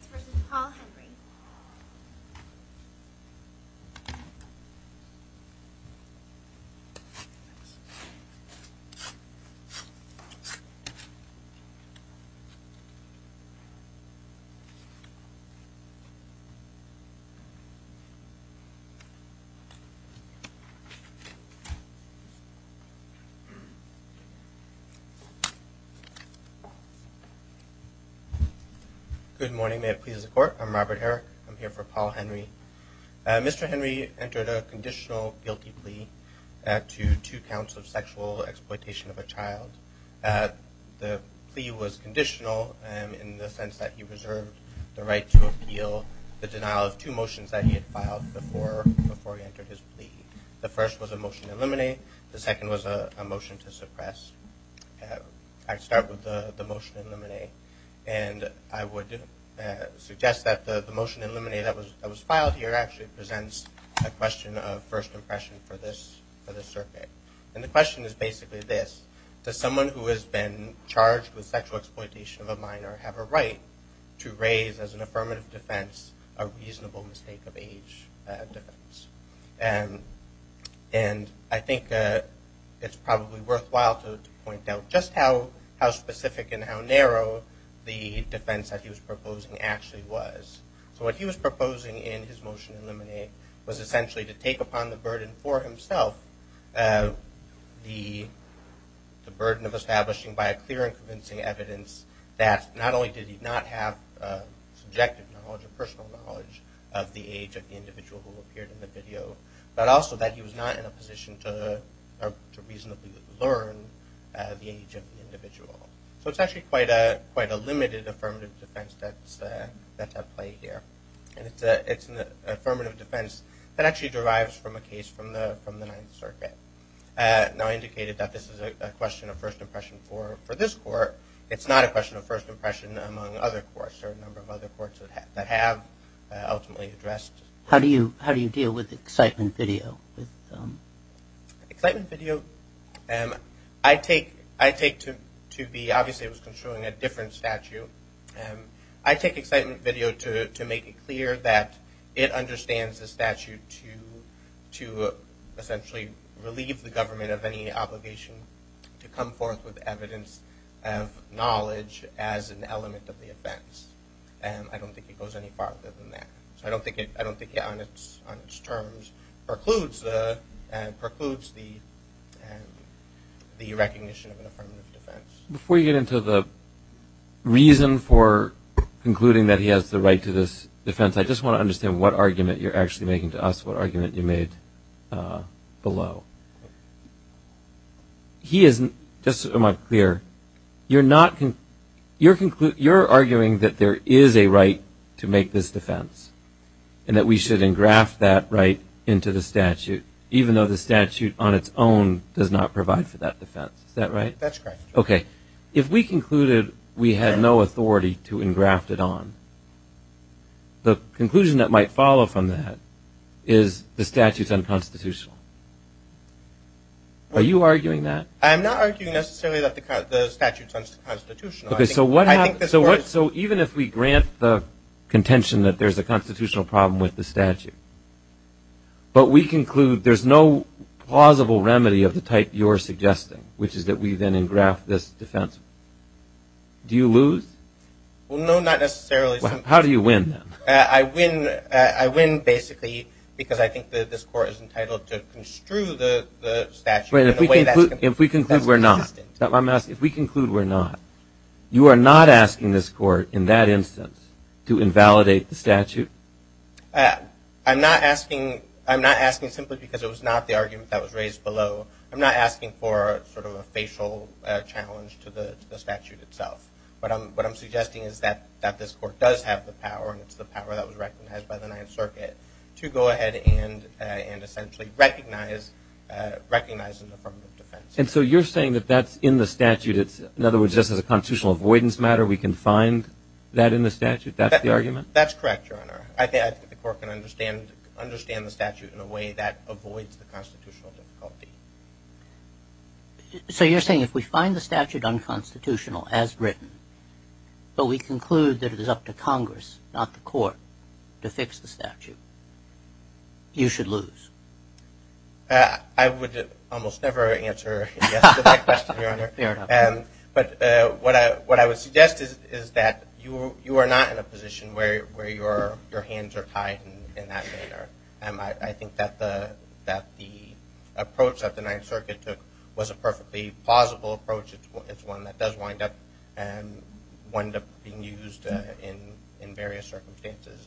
v. Paul Henry Good morning, may it please the court. I'm Robert Herrick. I'm here for Paul Henry. Mr. Henry entered a conditional guilty plea to two counts of sexual exploitation of a child. The plea was conditional in the sense that he reserved the right to appeal the denial of two motions that he had filed before he entered his plea. The first was a motion to eliminate, the second was a motion to suppress. I'd start with the motion to eliminate, and I would suggest that the motion to eliminate that was filed here actually presents a question of first impression for this circuit. And the question is basically this, does someone who has been charged with sexual exploitation of a minor have a right to raise as an affirmative defense a reasonable mistake of age defense? And I think it's probably worthwhile to point out just how specific and how narrow the defense that he was proposing actually was. So what he was proposing in his motion to eliminate was essentially to take upon the burden for himself, the burden of establishing by a clear and convincing evidence that not only did he not have subjective knowledge or personal knowledge of the age of the individual who the age of the individual. So it's actually quite a quite a limited affirmative defense that's at play here. And it's an affirmative defense that actually derives from a case from the Ninth Circuit. Now I indicated that this is a question of first impression for this court, it's not a question of first impression among other courts or a number of other courts that have ultimately How do you deal with excitement video? Excitement video, I take to be obviously it was construing a different statute. I take excitement video to make it clear that it understands the statute to essentially relieve the government of any obligation to come forth with evidence of knowledge as an element of the offense. And I don't think it goes any farther than that. So I don't think it I don't think it on its on its terms precludes the precludes the the recognition of an affirmative defense. Before you get into the reason for concluding that he has the right to this defense, I just want to understand what argument you're actually making to us, what argument you made below. He isn't, just so I'm clear, you're not, you're concluding, you're arguing that there is a right to make this defense and that we should engraft that right into the statute even though the statute on its own does not provide for that defense. Is that right? That's correct. Okay, if we concluded we had no authority to engraft it on, the conclusion that might follow from that is the statute's unconstitutional. Are you arguing that? I'm not arguing necessarily that the statute's unconstitutional. Okay, so what happens, so what so even if we grant the contention that there's a constitutional problem with the statute, but we conclude there's no plausible remedy of the type you're suggesting, which is that we then engraft this defense, do you lose? Well, no, not necessarily. How do you win? I win, I win basically because I think that this court is entitled to construe the statute in a way that's consistent. If we conclude we're not, if we conclude we're not, you are not asking this court in that instance to invalidate the statute? I'm not asking, I'm not asking simply because it was not the argument that was raised below, I'm not asking for sort of a facial challenge to the statute itself. What I'm suggesting is that this court does have the power, and it's the power that was recognized by the Ninth Circuit, to go ahead and essentially recognize an affirmative defense. And so you're saying that that's in the statute, it's, in other words, just as a constitutional avoidance matter, we can find that in the statute? That's the argument? That's correct, Your Honor. I think the court can understand the statute in a way that avoids the constitutional difficulty. So you're saying if we find the statute unconstitutional as written, but we conclude that it is up to Congress, not the court, to fix the statute, you should lose? I would almost never answer yes to that question, Your Honor. Fair enough. But what I would suggest is that you are not in a position where your hands are tied in that manner. And I think that the approach that the Ninth Circuit took was a perfectly plausible approach. It's one that does wind up and wind up being used in various circumstances.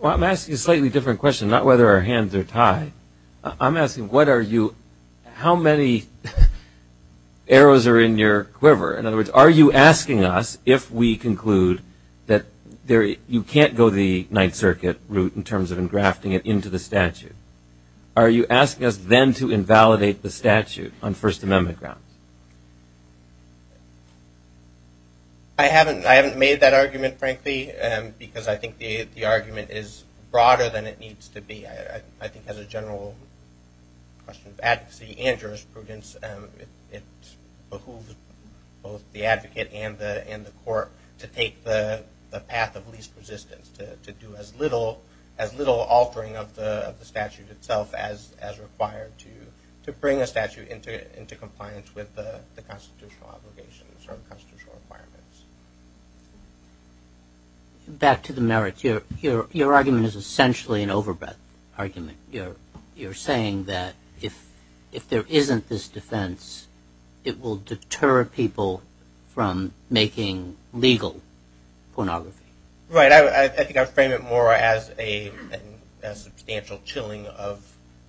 Well, I'm asking a slightly different question, not whether our hands are tied. I'm asking what are you, how many arrows are in your quiver? In other words, are you asking us if we conclude that you can't go the Ninth Circuit route in terms of engrafting it into the statute? Are you asking us then to invalidate the statute on First Amendment grounds? I haven't made that argument, frankly, because I think the argument is broader than it needs to be. I think as a general question of advocacy and jurisprudence, it behooves both the advocate and the court to take the path of least resistance, to do as little altering of the statute itself as required to bring a statute into compliance with the constitutional obligations or constitutional requirements. Back to the merits, your argument is essentially an overbreath argument. You're saying that if there isn't this defense, it will deter people from making legal pornography. Right, I think I frame it more as a substantial chilling of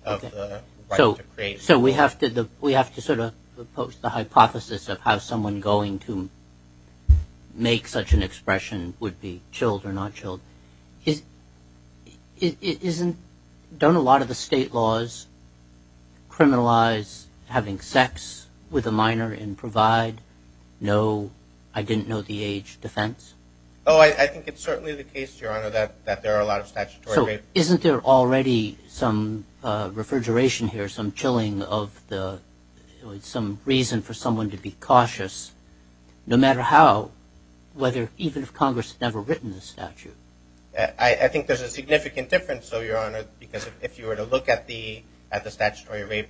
the right to create. So we have to sort of propose the hypothesis of how going to make such an expression would be chilled or not chilled. Don't a lot of the state laws criminalize having sex with a minor and provide no, I didn't know the age, defense? Oh, I think it's certainly the case, your honor, that there are a lot of statutory... So isn't there already some refrigeration here, some chilling of the, some reason for someone to be cautious, no matter how, whether even if Congress had never written the statute? I think there's a significant difference, your honor, because if you were to look at the statutory rape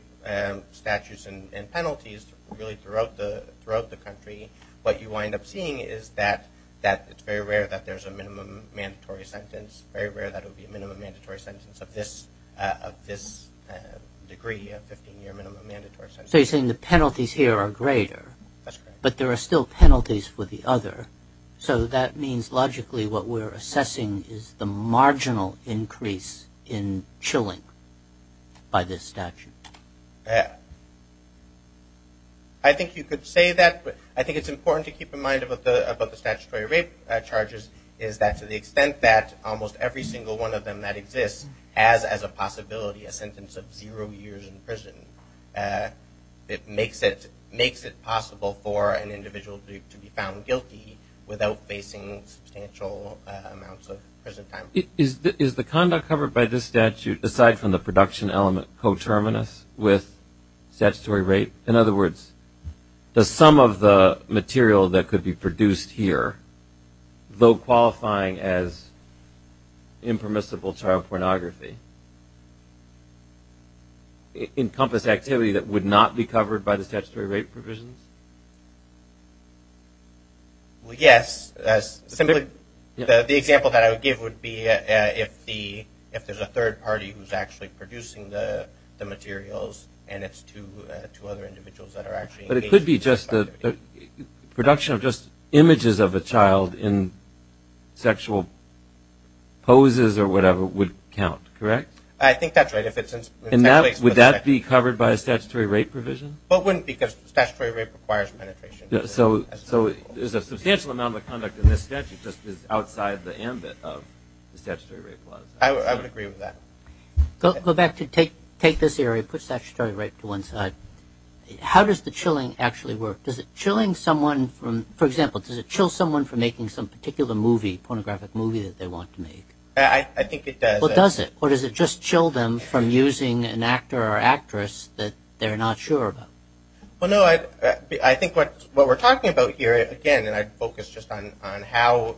statutes and penalties really throughout the country, what you wind up seeing is that it's very rare that there's a minimum mandatory sentence, very rare that it would be a minimum mandatory sentence of this degree, a 15-year minimum mandatory sentence. So you're saying the penalties here are greater, but there are still penalties for the other. So that means logically what we're assessing is the marginal increase in chilling by this statute. I think you could say that, but I think it's important to keep in mind about the statutory rape charges is that to the extent that almost every single one of them that exists has as a possibility a sentence of zero years in prison. It makes it possible for an individual to be found guilty without facing substantial amounts of prison time. Is the conduct covered by this statute, aside from the production element, coterminous with statutory rape? In other words, the sum of the material that could be produced here, though qualifying as impermissible child pornography, encompass activity that would not be covered by the statutory rape provisions? Yes. The example that I would give would be if there's a third party who's actually producing the materials and it's two other individuals that are actually engaged. The production of just images of a child in sexual poses or whatever would count, correct? I think that's right. Would that be covered by a statutory rape provision? Well, it wouldn't because statutory rape requires penetration. So there's a substantial amount of conduct in this statute just is outside the ambit of the statutory rape laws. I would agree with that. Go back to take this area, put statutory rape to one side. How does the chilling actually work? For example, does it chill someone from making some particular movie, pornographic movie that they want to make? I think it does. Well, does it? Or does it just chill them from using an actor or actress that they're not sure about? Well, no. I think what we're talking about here, again, and I'd focus just on how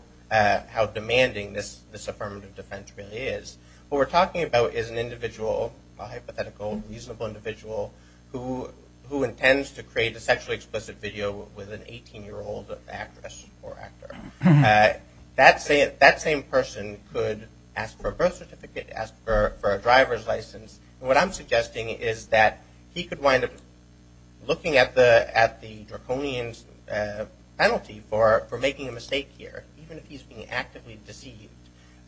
demanding this affirmative defense really is, what we're talking about is an individual, a hypothetical, reasonable individual who intends to create a sexually explicit video with an 18-year-old actress or actor. That same person could ask for a birth certificate, ask for a driver's license. And what I'm suggesting is that he could wind up looking at the draconian's penalty for making a mistake here, even if he's being actively deceived,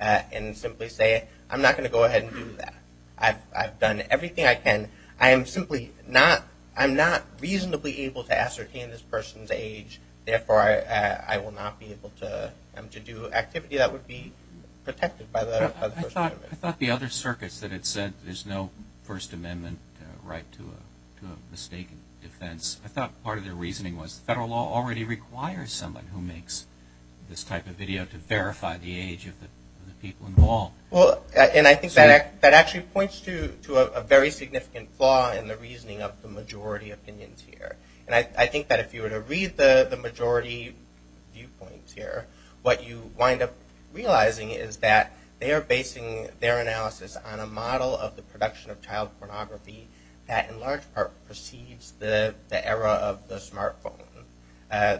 and simply say, I'm not going to go ahead and do that. I've done everything I can. I am simply not, I'm not reasonably able to ascertain this person's age. Therefore, I will not be able to do activity that would be protected by the First Amendment. I thought the other circuits that had said there's no First Amendment right to a mistaken defense, I thought part of their reasoning was the federal law already requires someone who makes this type of video to verify the age of the people involved. Well, and I think that actually points to a very significant flaw in the reasoning of the majority opinions here. And I think that if you were to read the majority viewpoints here, what you wind up realizing is that they are basing their analysis on a model of the production of the era of the smartphone.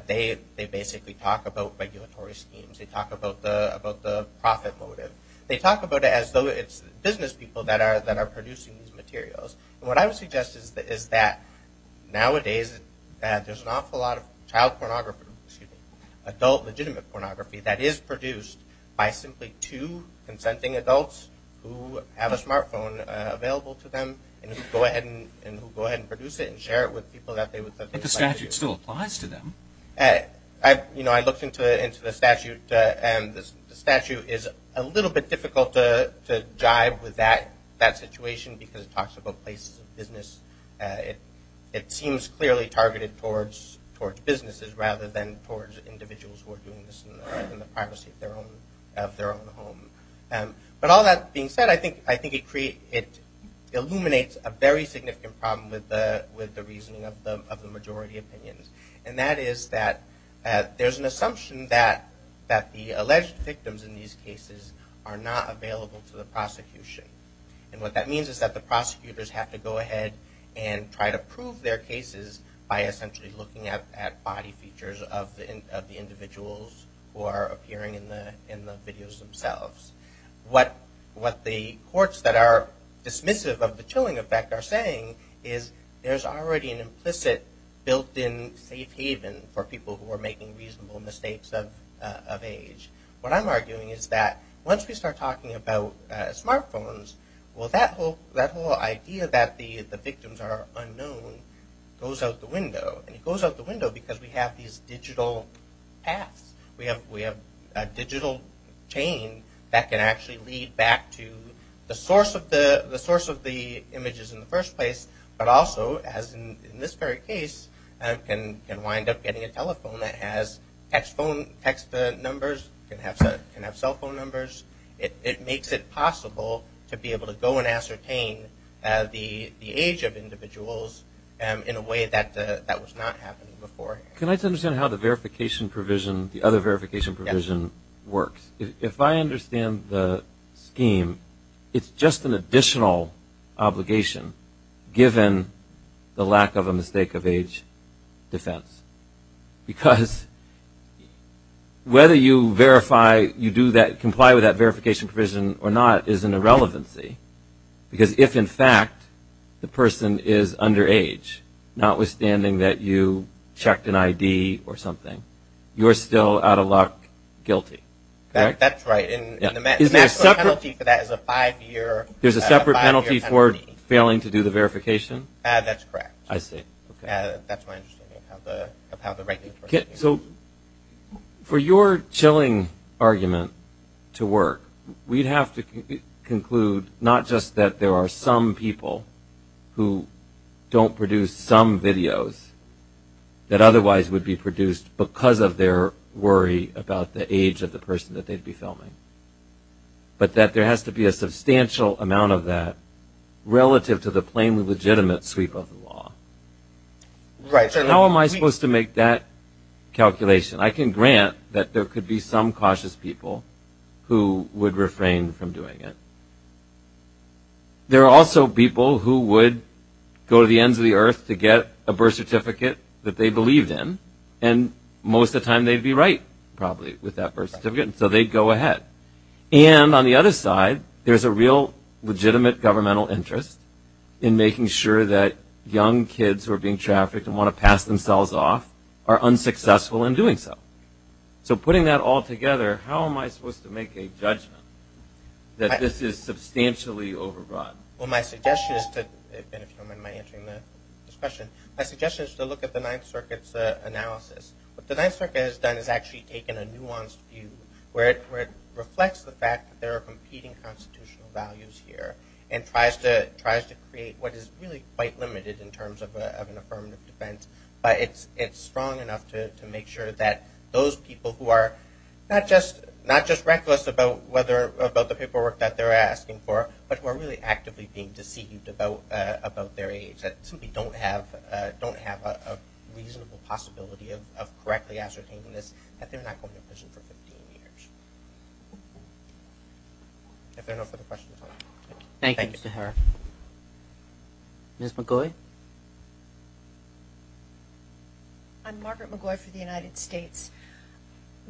They basically talk about regulatory schemes. They talk about the profit motive. They talk about it as though it's business people that are producing these materials. What I would suggest is that nowadays there's an awful lot of child pornography, adult legitimate pornography, that is produced by simply two consenting adults who have a relationship. But the statute still applies to them. You know, I looked into the statute and the statute is a little bit difficult to jibe with that situation because it talks about places of business. It seems clearly targeted towards businesses rather than towards individuals who are doing this in the privacy of their own home. But all that being said, I think it illuminates a very significant problem with the reason of the majority opinions. And that is that there's an assumption that the alleged victims in these cases are not available to the prosecution. And what that means is that the prosecutors have to go ahead and try to prove their cases by essentially looking at body features of the individuals who are appearing in the videos themselves. What the courts that are dismissive of the chilling effect are saying is there's already an implicit built-in safe haven for people who are making reasonable mistakes of age. What I'm arguing is that once we start talking about smartphones, well that whole idea that the victims are unknown goes out the window. And it goes out the window because we have these digital paths. We have a digital chain that can actually lead back to the source of the images in the first place. But also, as in this very case, can wind up getting a telephone that has text phone numbers, can have cell phone numbers. It makes it possible to be able to go and ascertain the age of individuals in a way that was not happening before. Can I just understand how the verification provision, the other verification provision works? If I understand the scheme, it's just an additional obligation given the lack of a mistake of age defense. Because whether you verify, you do that, comply with that verification provision or not is an irrelevancy. Because if, in fact, the person is underage, notwithstanding that you checked an ID or something, you're still out of luck, guilty. That's right. And the maximum penalty for that is a five-year penalty. There's a separate penalty for failing to do the verification? That's correct. I see. That's my understanding of how the regulations work. So for your chilling argument to work, we'd have to conclude not just that there are some people who don't produce some videos that otherwise would be produced because of their worry about the age of the person that they'd be filming, but that there has to be a substantial amount of that relative to the plainly legitimate sweep of the law. Right. So how am I supposed to make that calculation? I can grant that there could be some cautious people who would refrain from doing it. There are also people who would go to the ends of the earth to get a birth certificate that they believed in. And most of the time, they'd be right, probably, with that birth certificate. So they'd go ahead. And on the other side, there's a real legitimate governmental interest in making sure that young kids who are being trafficked and want to pass themselves off are unsuccessful in doing so. So putting that all together, how am I supposed to make a judgment that this is substantially overrun? Well, my suggestion is to look at the Ninth Circuit's analysis. What the Ninth Circuit has done is actually taken a nuanced view where it reflects the fact that there are competing constitutional values here and tries to create what is really quite limited in terms of an those people who are not just reckless about the paperwork that they're asking for, but who are really actively being deceived about their age, that simply don't have a reasonable possibility of correctly ascertaining this, that they're not going to prison for 15 years. If there are no further questions. Thank you, Mr. Herr. Ms. McGoy? I'm Margaret McGoy for the United States.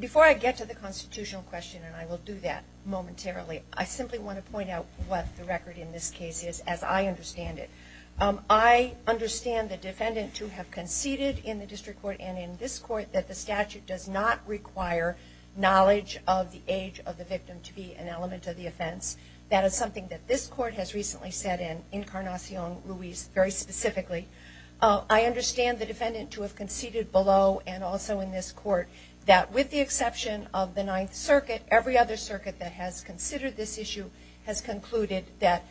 Before I get to the constitutional question, and I will do that momentarily, I simply want to point out what the record in this case is, as I understand it. I understand the defendant to have conceded in the district court and in this court that the statute does not require knowledge of the age of the victim to be an element of the offense. That is something that this court has recently said in Incarnacion Luis, very specific ly. I understand the defendant to have conceded below and also in this court that with the exception of the Ninth Circuit, every other circuit that has considered this issue has concluded that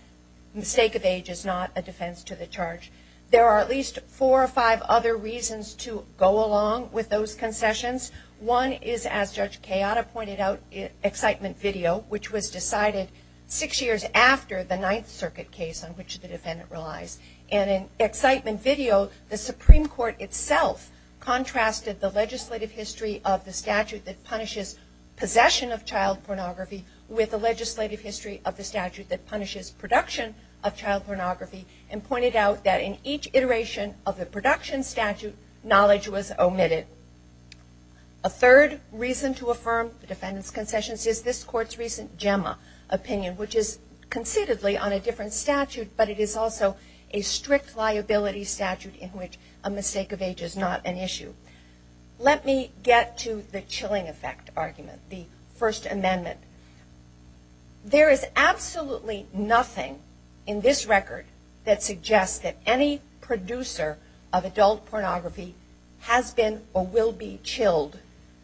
mistake of age is not a defense to the charge. There are at least four or five other reasons to go along with those concessions. One is, as Judge Kayada pointed out in excitement video, which was decided six years after the Ninth Circuit case on which the defendant relies. And in excitement video, the Supreme Court itself contrasted the legislative history of the statute that punishes possession of child pornography with the legislative history of the statute that punishes production of child pornography and pointed out that in each iteration of the production statute, knowledge was omitted. A third reason to affirm the defendant's concessions is this strict liability statute in which a mistake of age is not an issue. Let me get to the chilling effect argument, the First Amendment. There is absolutely nothing in this record that suggests that any producer of adult pornography has been or will be chilled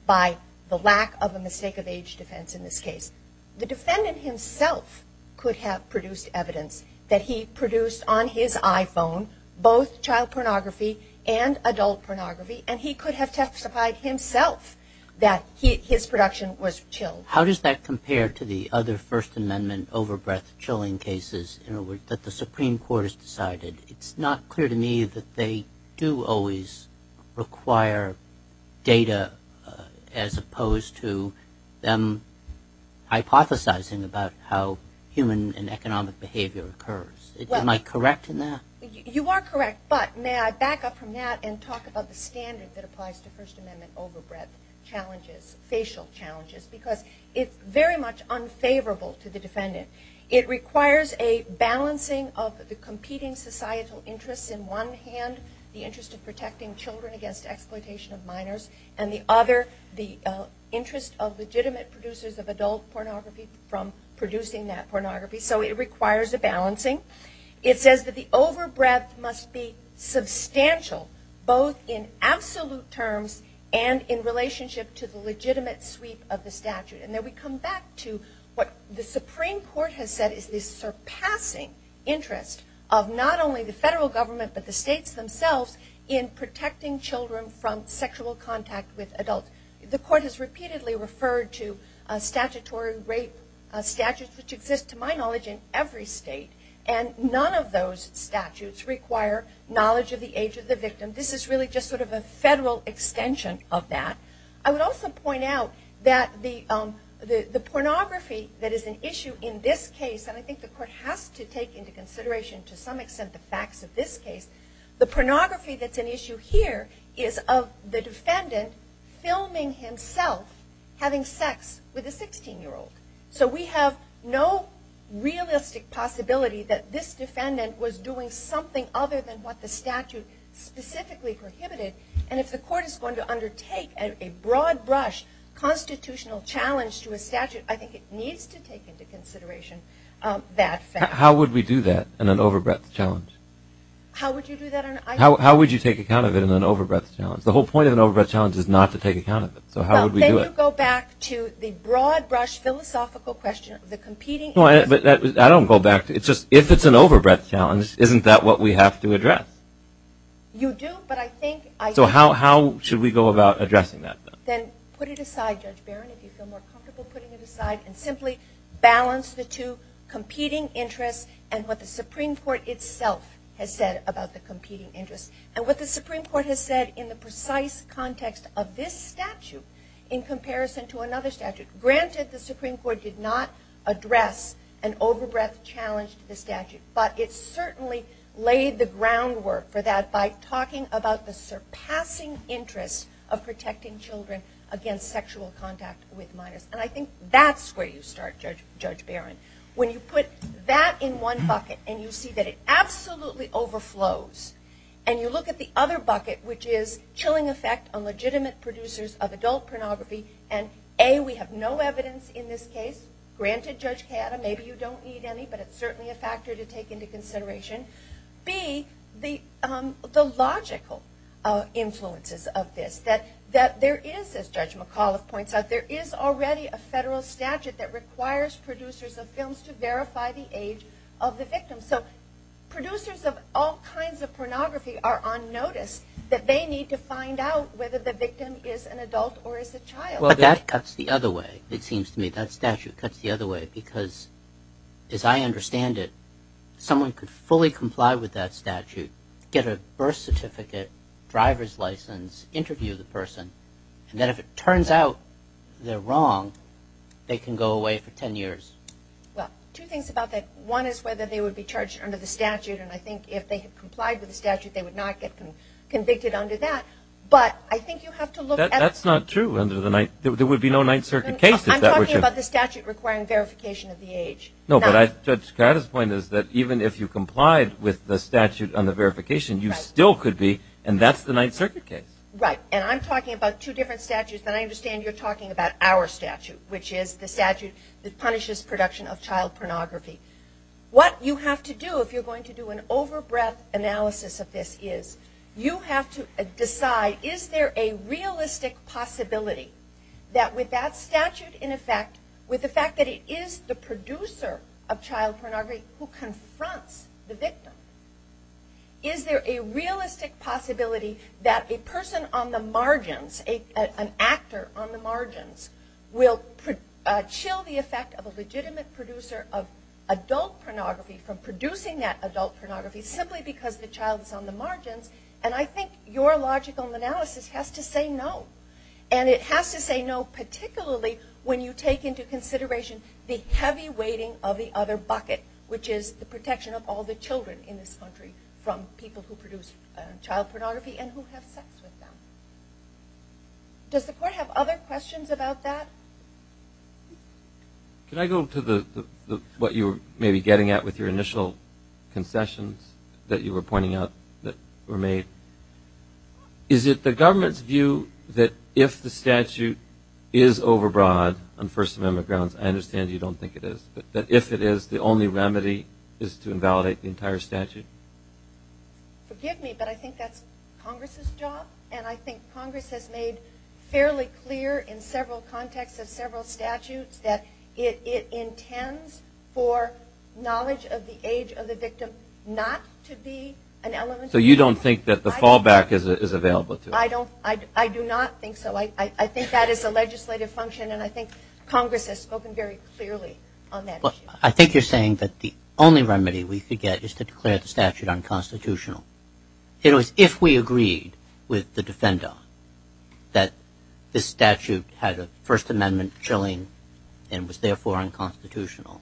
by the lack of a mistake of age defense in this case. The defendant himself could have produced evidence that he produced on his iPhone both child pornography and adult pornography and he could have testified himself that his production was chilled. How does that compare to the other First Amendment overbreath chilling cases that the Supreme Court has decided? It's not clear to me that they do always require data as opposed to them hypothesizing about how human and economic behavior occurs. Am I correct in that? You are correct, but may I back up from that and talk about the standard that applies to First Amendment overbreath challenges, facial challenges, because it's very much unfavorable to the defendant. It requires a balancing of the competing societal interests in one hand, the interest of protecting children against exploitation of minors, and the other, the interest of legitimate producers of adult pornography from producing that It says that the overbreath must be substantial both in absolute terms and in relationship to the legitimate sweep of the statute. And then we come back to what the Supreme Court has said is the surpassing interest of not only the federal government but the states themselves in protecting children from sexual contact with adults. The court has repeatedly referred to statutory rape statutes, which exist to my knowledge in every state, and none of those statutes require knowledge of the age of the victim. This is really just sort of a federal extension of that. I would also point out that the pornography that is an issue in this case, and I think the court has to take into consideration to some extent the facts of this case, the pornography that's an issue here is of the defendant filming himself having sex with a 16-year-old. So we have no realistic possibility that this defendant was doing something other than what the statute specifically prohibited, and if the court is going to undertake a broad brush constitutional challenge to a statute, I think it needs to take into consideration that fact. How would we do that in an overbreath challenge? How would you do that? How would you take account of it in an overbreath challenge? The whole point of an overbreath challenge is not to take account of it, so how would we do it? Well, then you go back to the broad brush philosophical question of the competing interests. I don't go back. It's just if it's an overbreath challenge, isn't that what we have to address? You do, but I think... So how should we go about addressing that? Then put it aside, Judge Barron, if you feel more comfortable putting it aside, and simply balance the two competing interests and what the Supreme Court itself has said about the context of this statute in comparison to another statute. Granted, the Supreme Court did not address an overbreath challenge to the statute, but it certainly laid the groundwork for that by talking about the surpassing interest of protecting children against sexual contact with minors, and I think that's where you start, Judge Barron. When you put that in one bucket and you see that it absolutely overflows, and you look at the other bucket, which is chilling effect on legitimate producers of adult pornography, and A, we have no evidence in this case. Granted, Judge Cayetta, maybe you don't need any, but it's certainly a factor to take into consideration. B, the logical influences of this, that there is, as Judge McAuliffe points out, there is already a federal statute that requires producers of films to verify the age of the victim, so producers of all kinds of pornography are on notice that they need to find out whether the victim is an adult or is a child. Well, that cuts the other way, it seems to me. That statute cuts the other way because, as I understand it, someone could fully comply with that statute, get a birth certificate, driver's license, interview the person, and then if it would be charged under the statute, and I think if they had complied with the statute, they would not get convicted under that, but I think you have to look at- That's not true. There would be no Ninth Circuit case if that were true. I'm talking about the statute requiring verification of the age. No, but Judge Cayetta's point is that even if you complied with the statute on the verification, you still could be, and that's the Ninth Circuit case. Right, and I'm talking about two different statutes, but I understand you're talking about our statute, which is the statute that punishes production of child pornography. What you have to do if you're going to do an over-breath analysis of this is you have to decide is there a realistic possibility that with that statute in effect, with the fact that it is the producer of child pornography who confronts the victim, is there a realistic possibility that a person on the margins, an actor on the margins, will chill the effect of a legitimate producer of adult pornography from producing that adult pornography simply because the child is on the margins, and I think your logical analysis has to say no, and it has to say no particularly when you take into consideration the heavy weighting of the other bucket, which is the protection of all the children in this country from people who produce child pornography and who have sex with them. Does the Court have other questions about that? Can I go to the what you were maybe getting at with your initial concessions that you were pointing out that were made? Is it the government's view that if the statute is overbroad on First Amendment grounds, I understand you don't think it is, but that if it is, the only remedy is to invalidate the entire statute? Forgive me, but I think that's Congress's job, and I think Congress has made fairly clear in several contexts of several statutes that it intends for knowledge of the age of the victim not to be an element. So you don't think that the fallback is available? I do not think so. I think that is a legislative function, and I think Congress has spoken very clearly on that issue. I think you're saying that the only remedy we could get is to declare the statute unconstitutional. If we agreed with the defender that this statute had a First Amendment chilling and was therefore unconstitutional,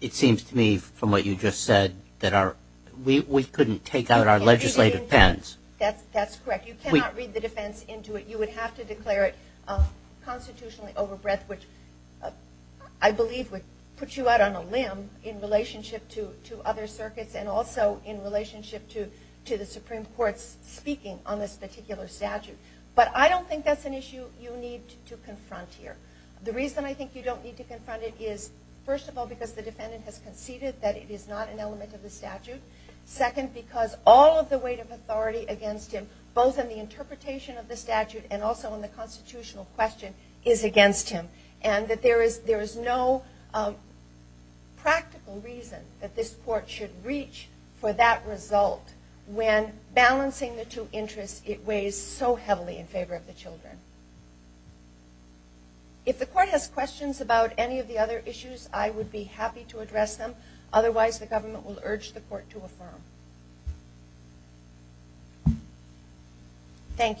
it seems to me from what you just said that we couldn't take out our legislative pens. That's correct. You cannot read the defense into it. You would have to declare it constitutionally overbreadth, which I believe would put you out on a limb in relationship to other circuits and also in relationship to the Supreme Court's speaking on this particular statute. But I don't think that's an issue you need to confront here. The reason I think you don't need to confront it is, first of all, because the defendant has conceded that it is not an element of the statute. Second, because all of the weight of authority against him, both in the interpretation of the statute and also in the constitutional question, is against him. And that there is no practical reason that this court should reach for that result when balancing the two interests, it weighs so heavily in favor of the children. If the court has questions about any of the other issues, I would be happy to address them. Otherwise, the government will urge the court to affirm. Thank you.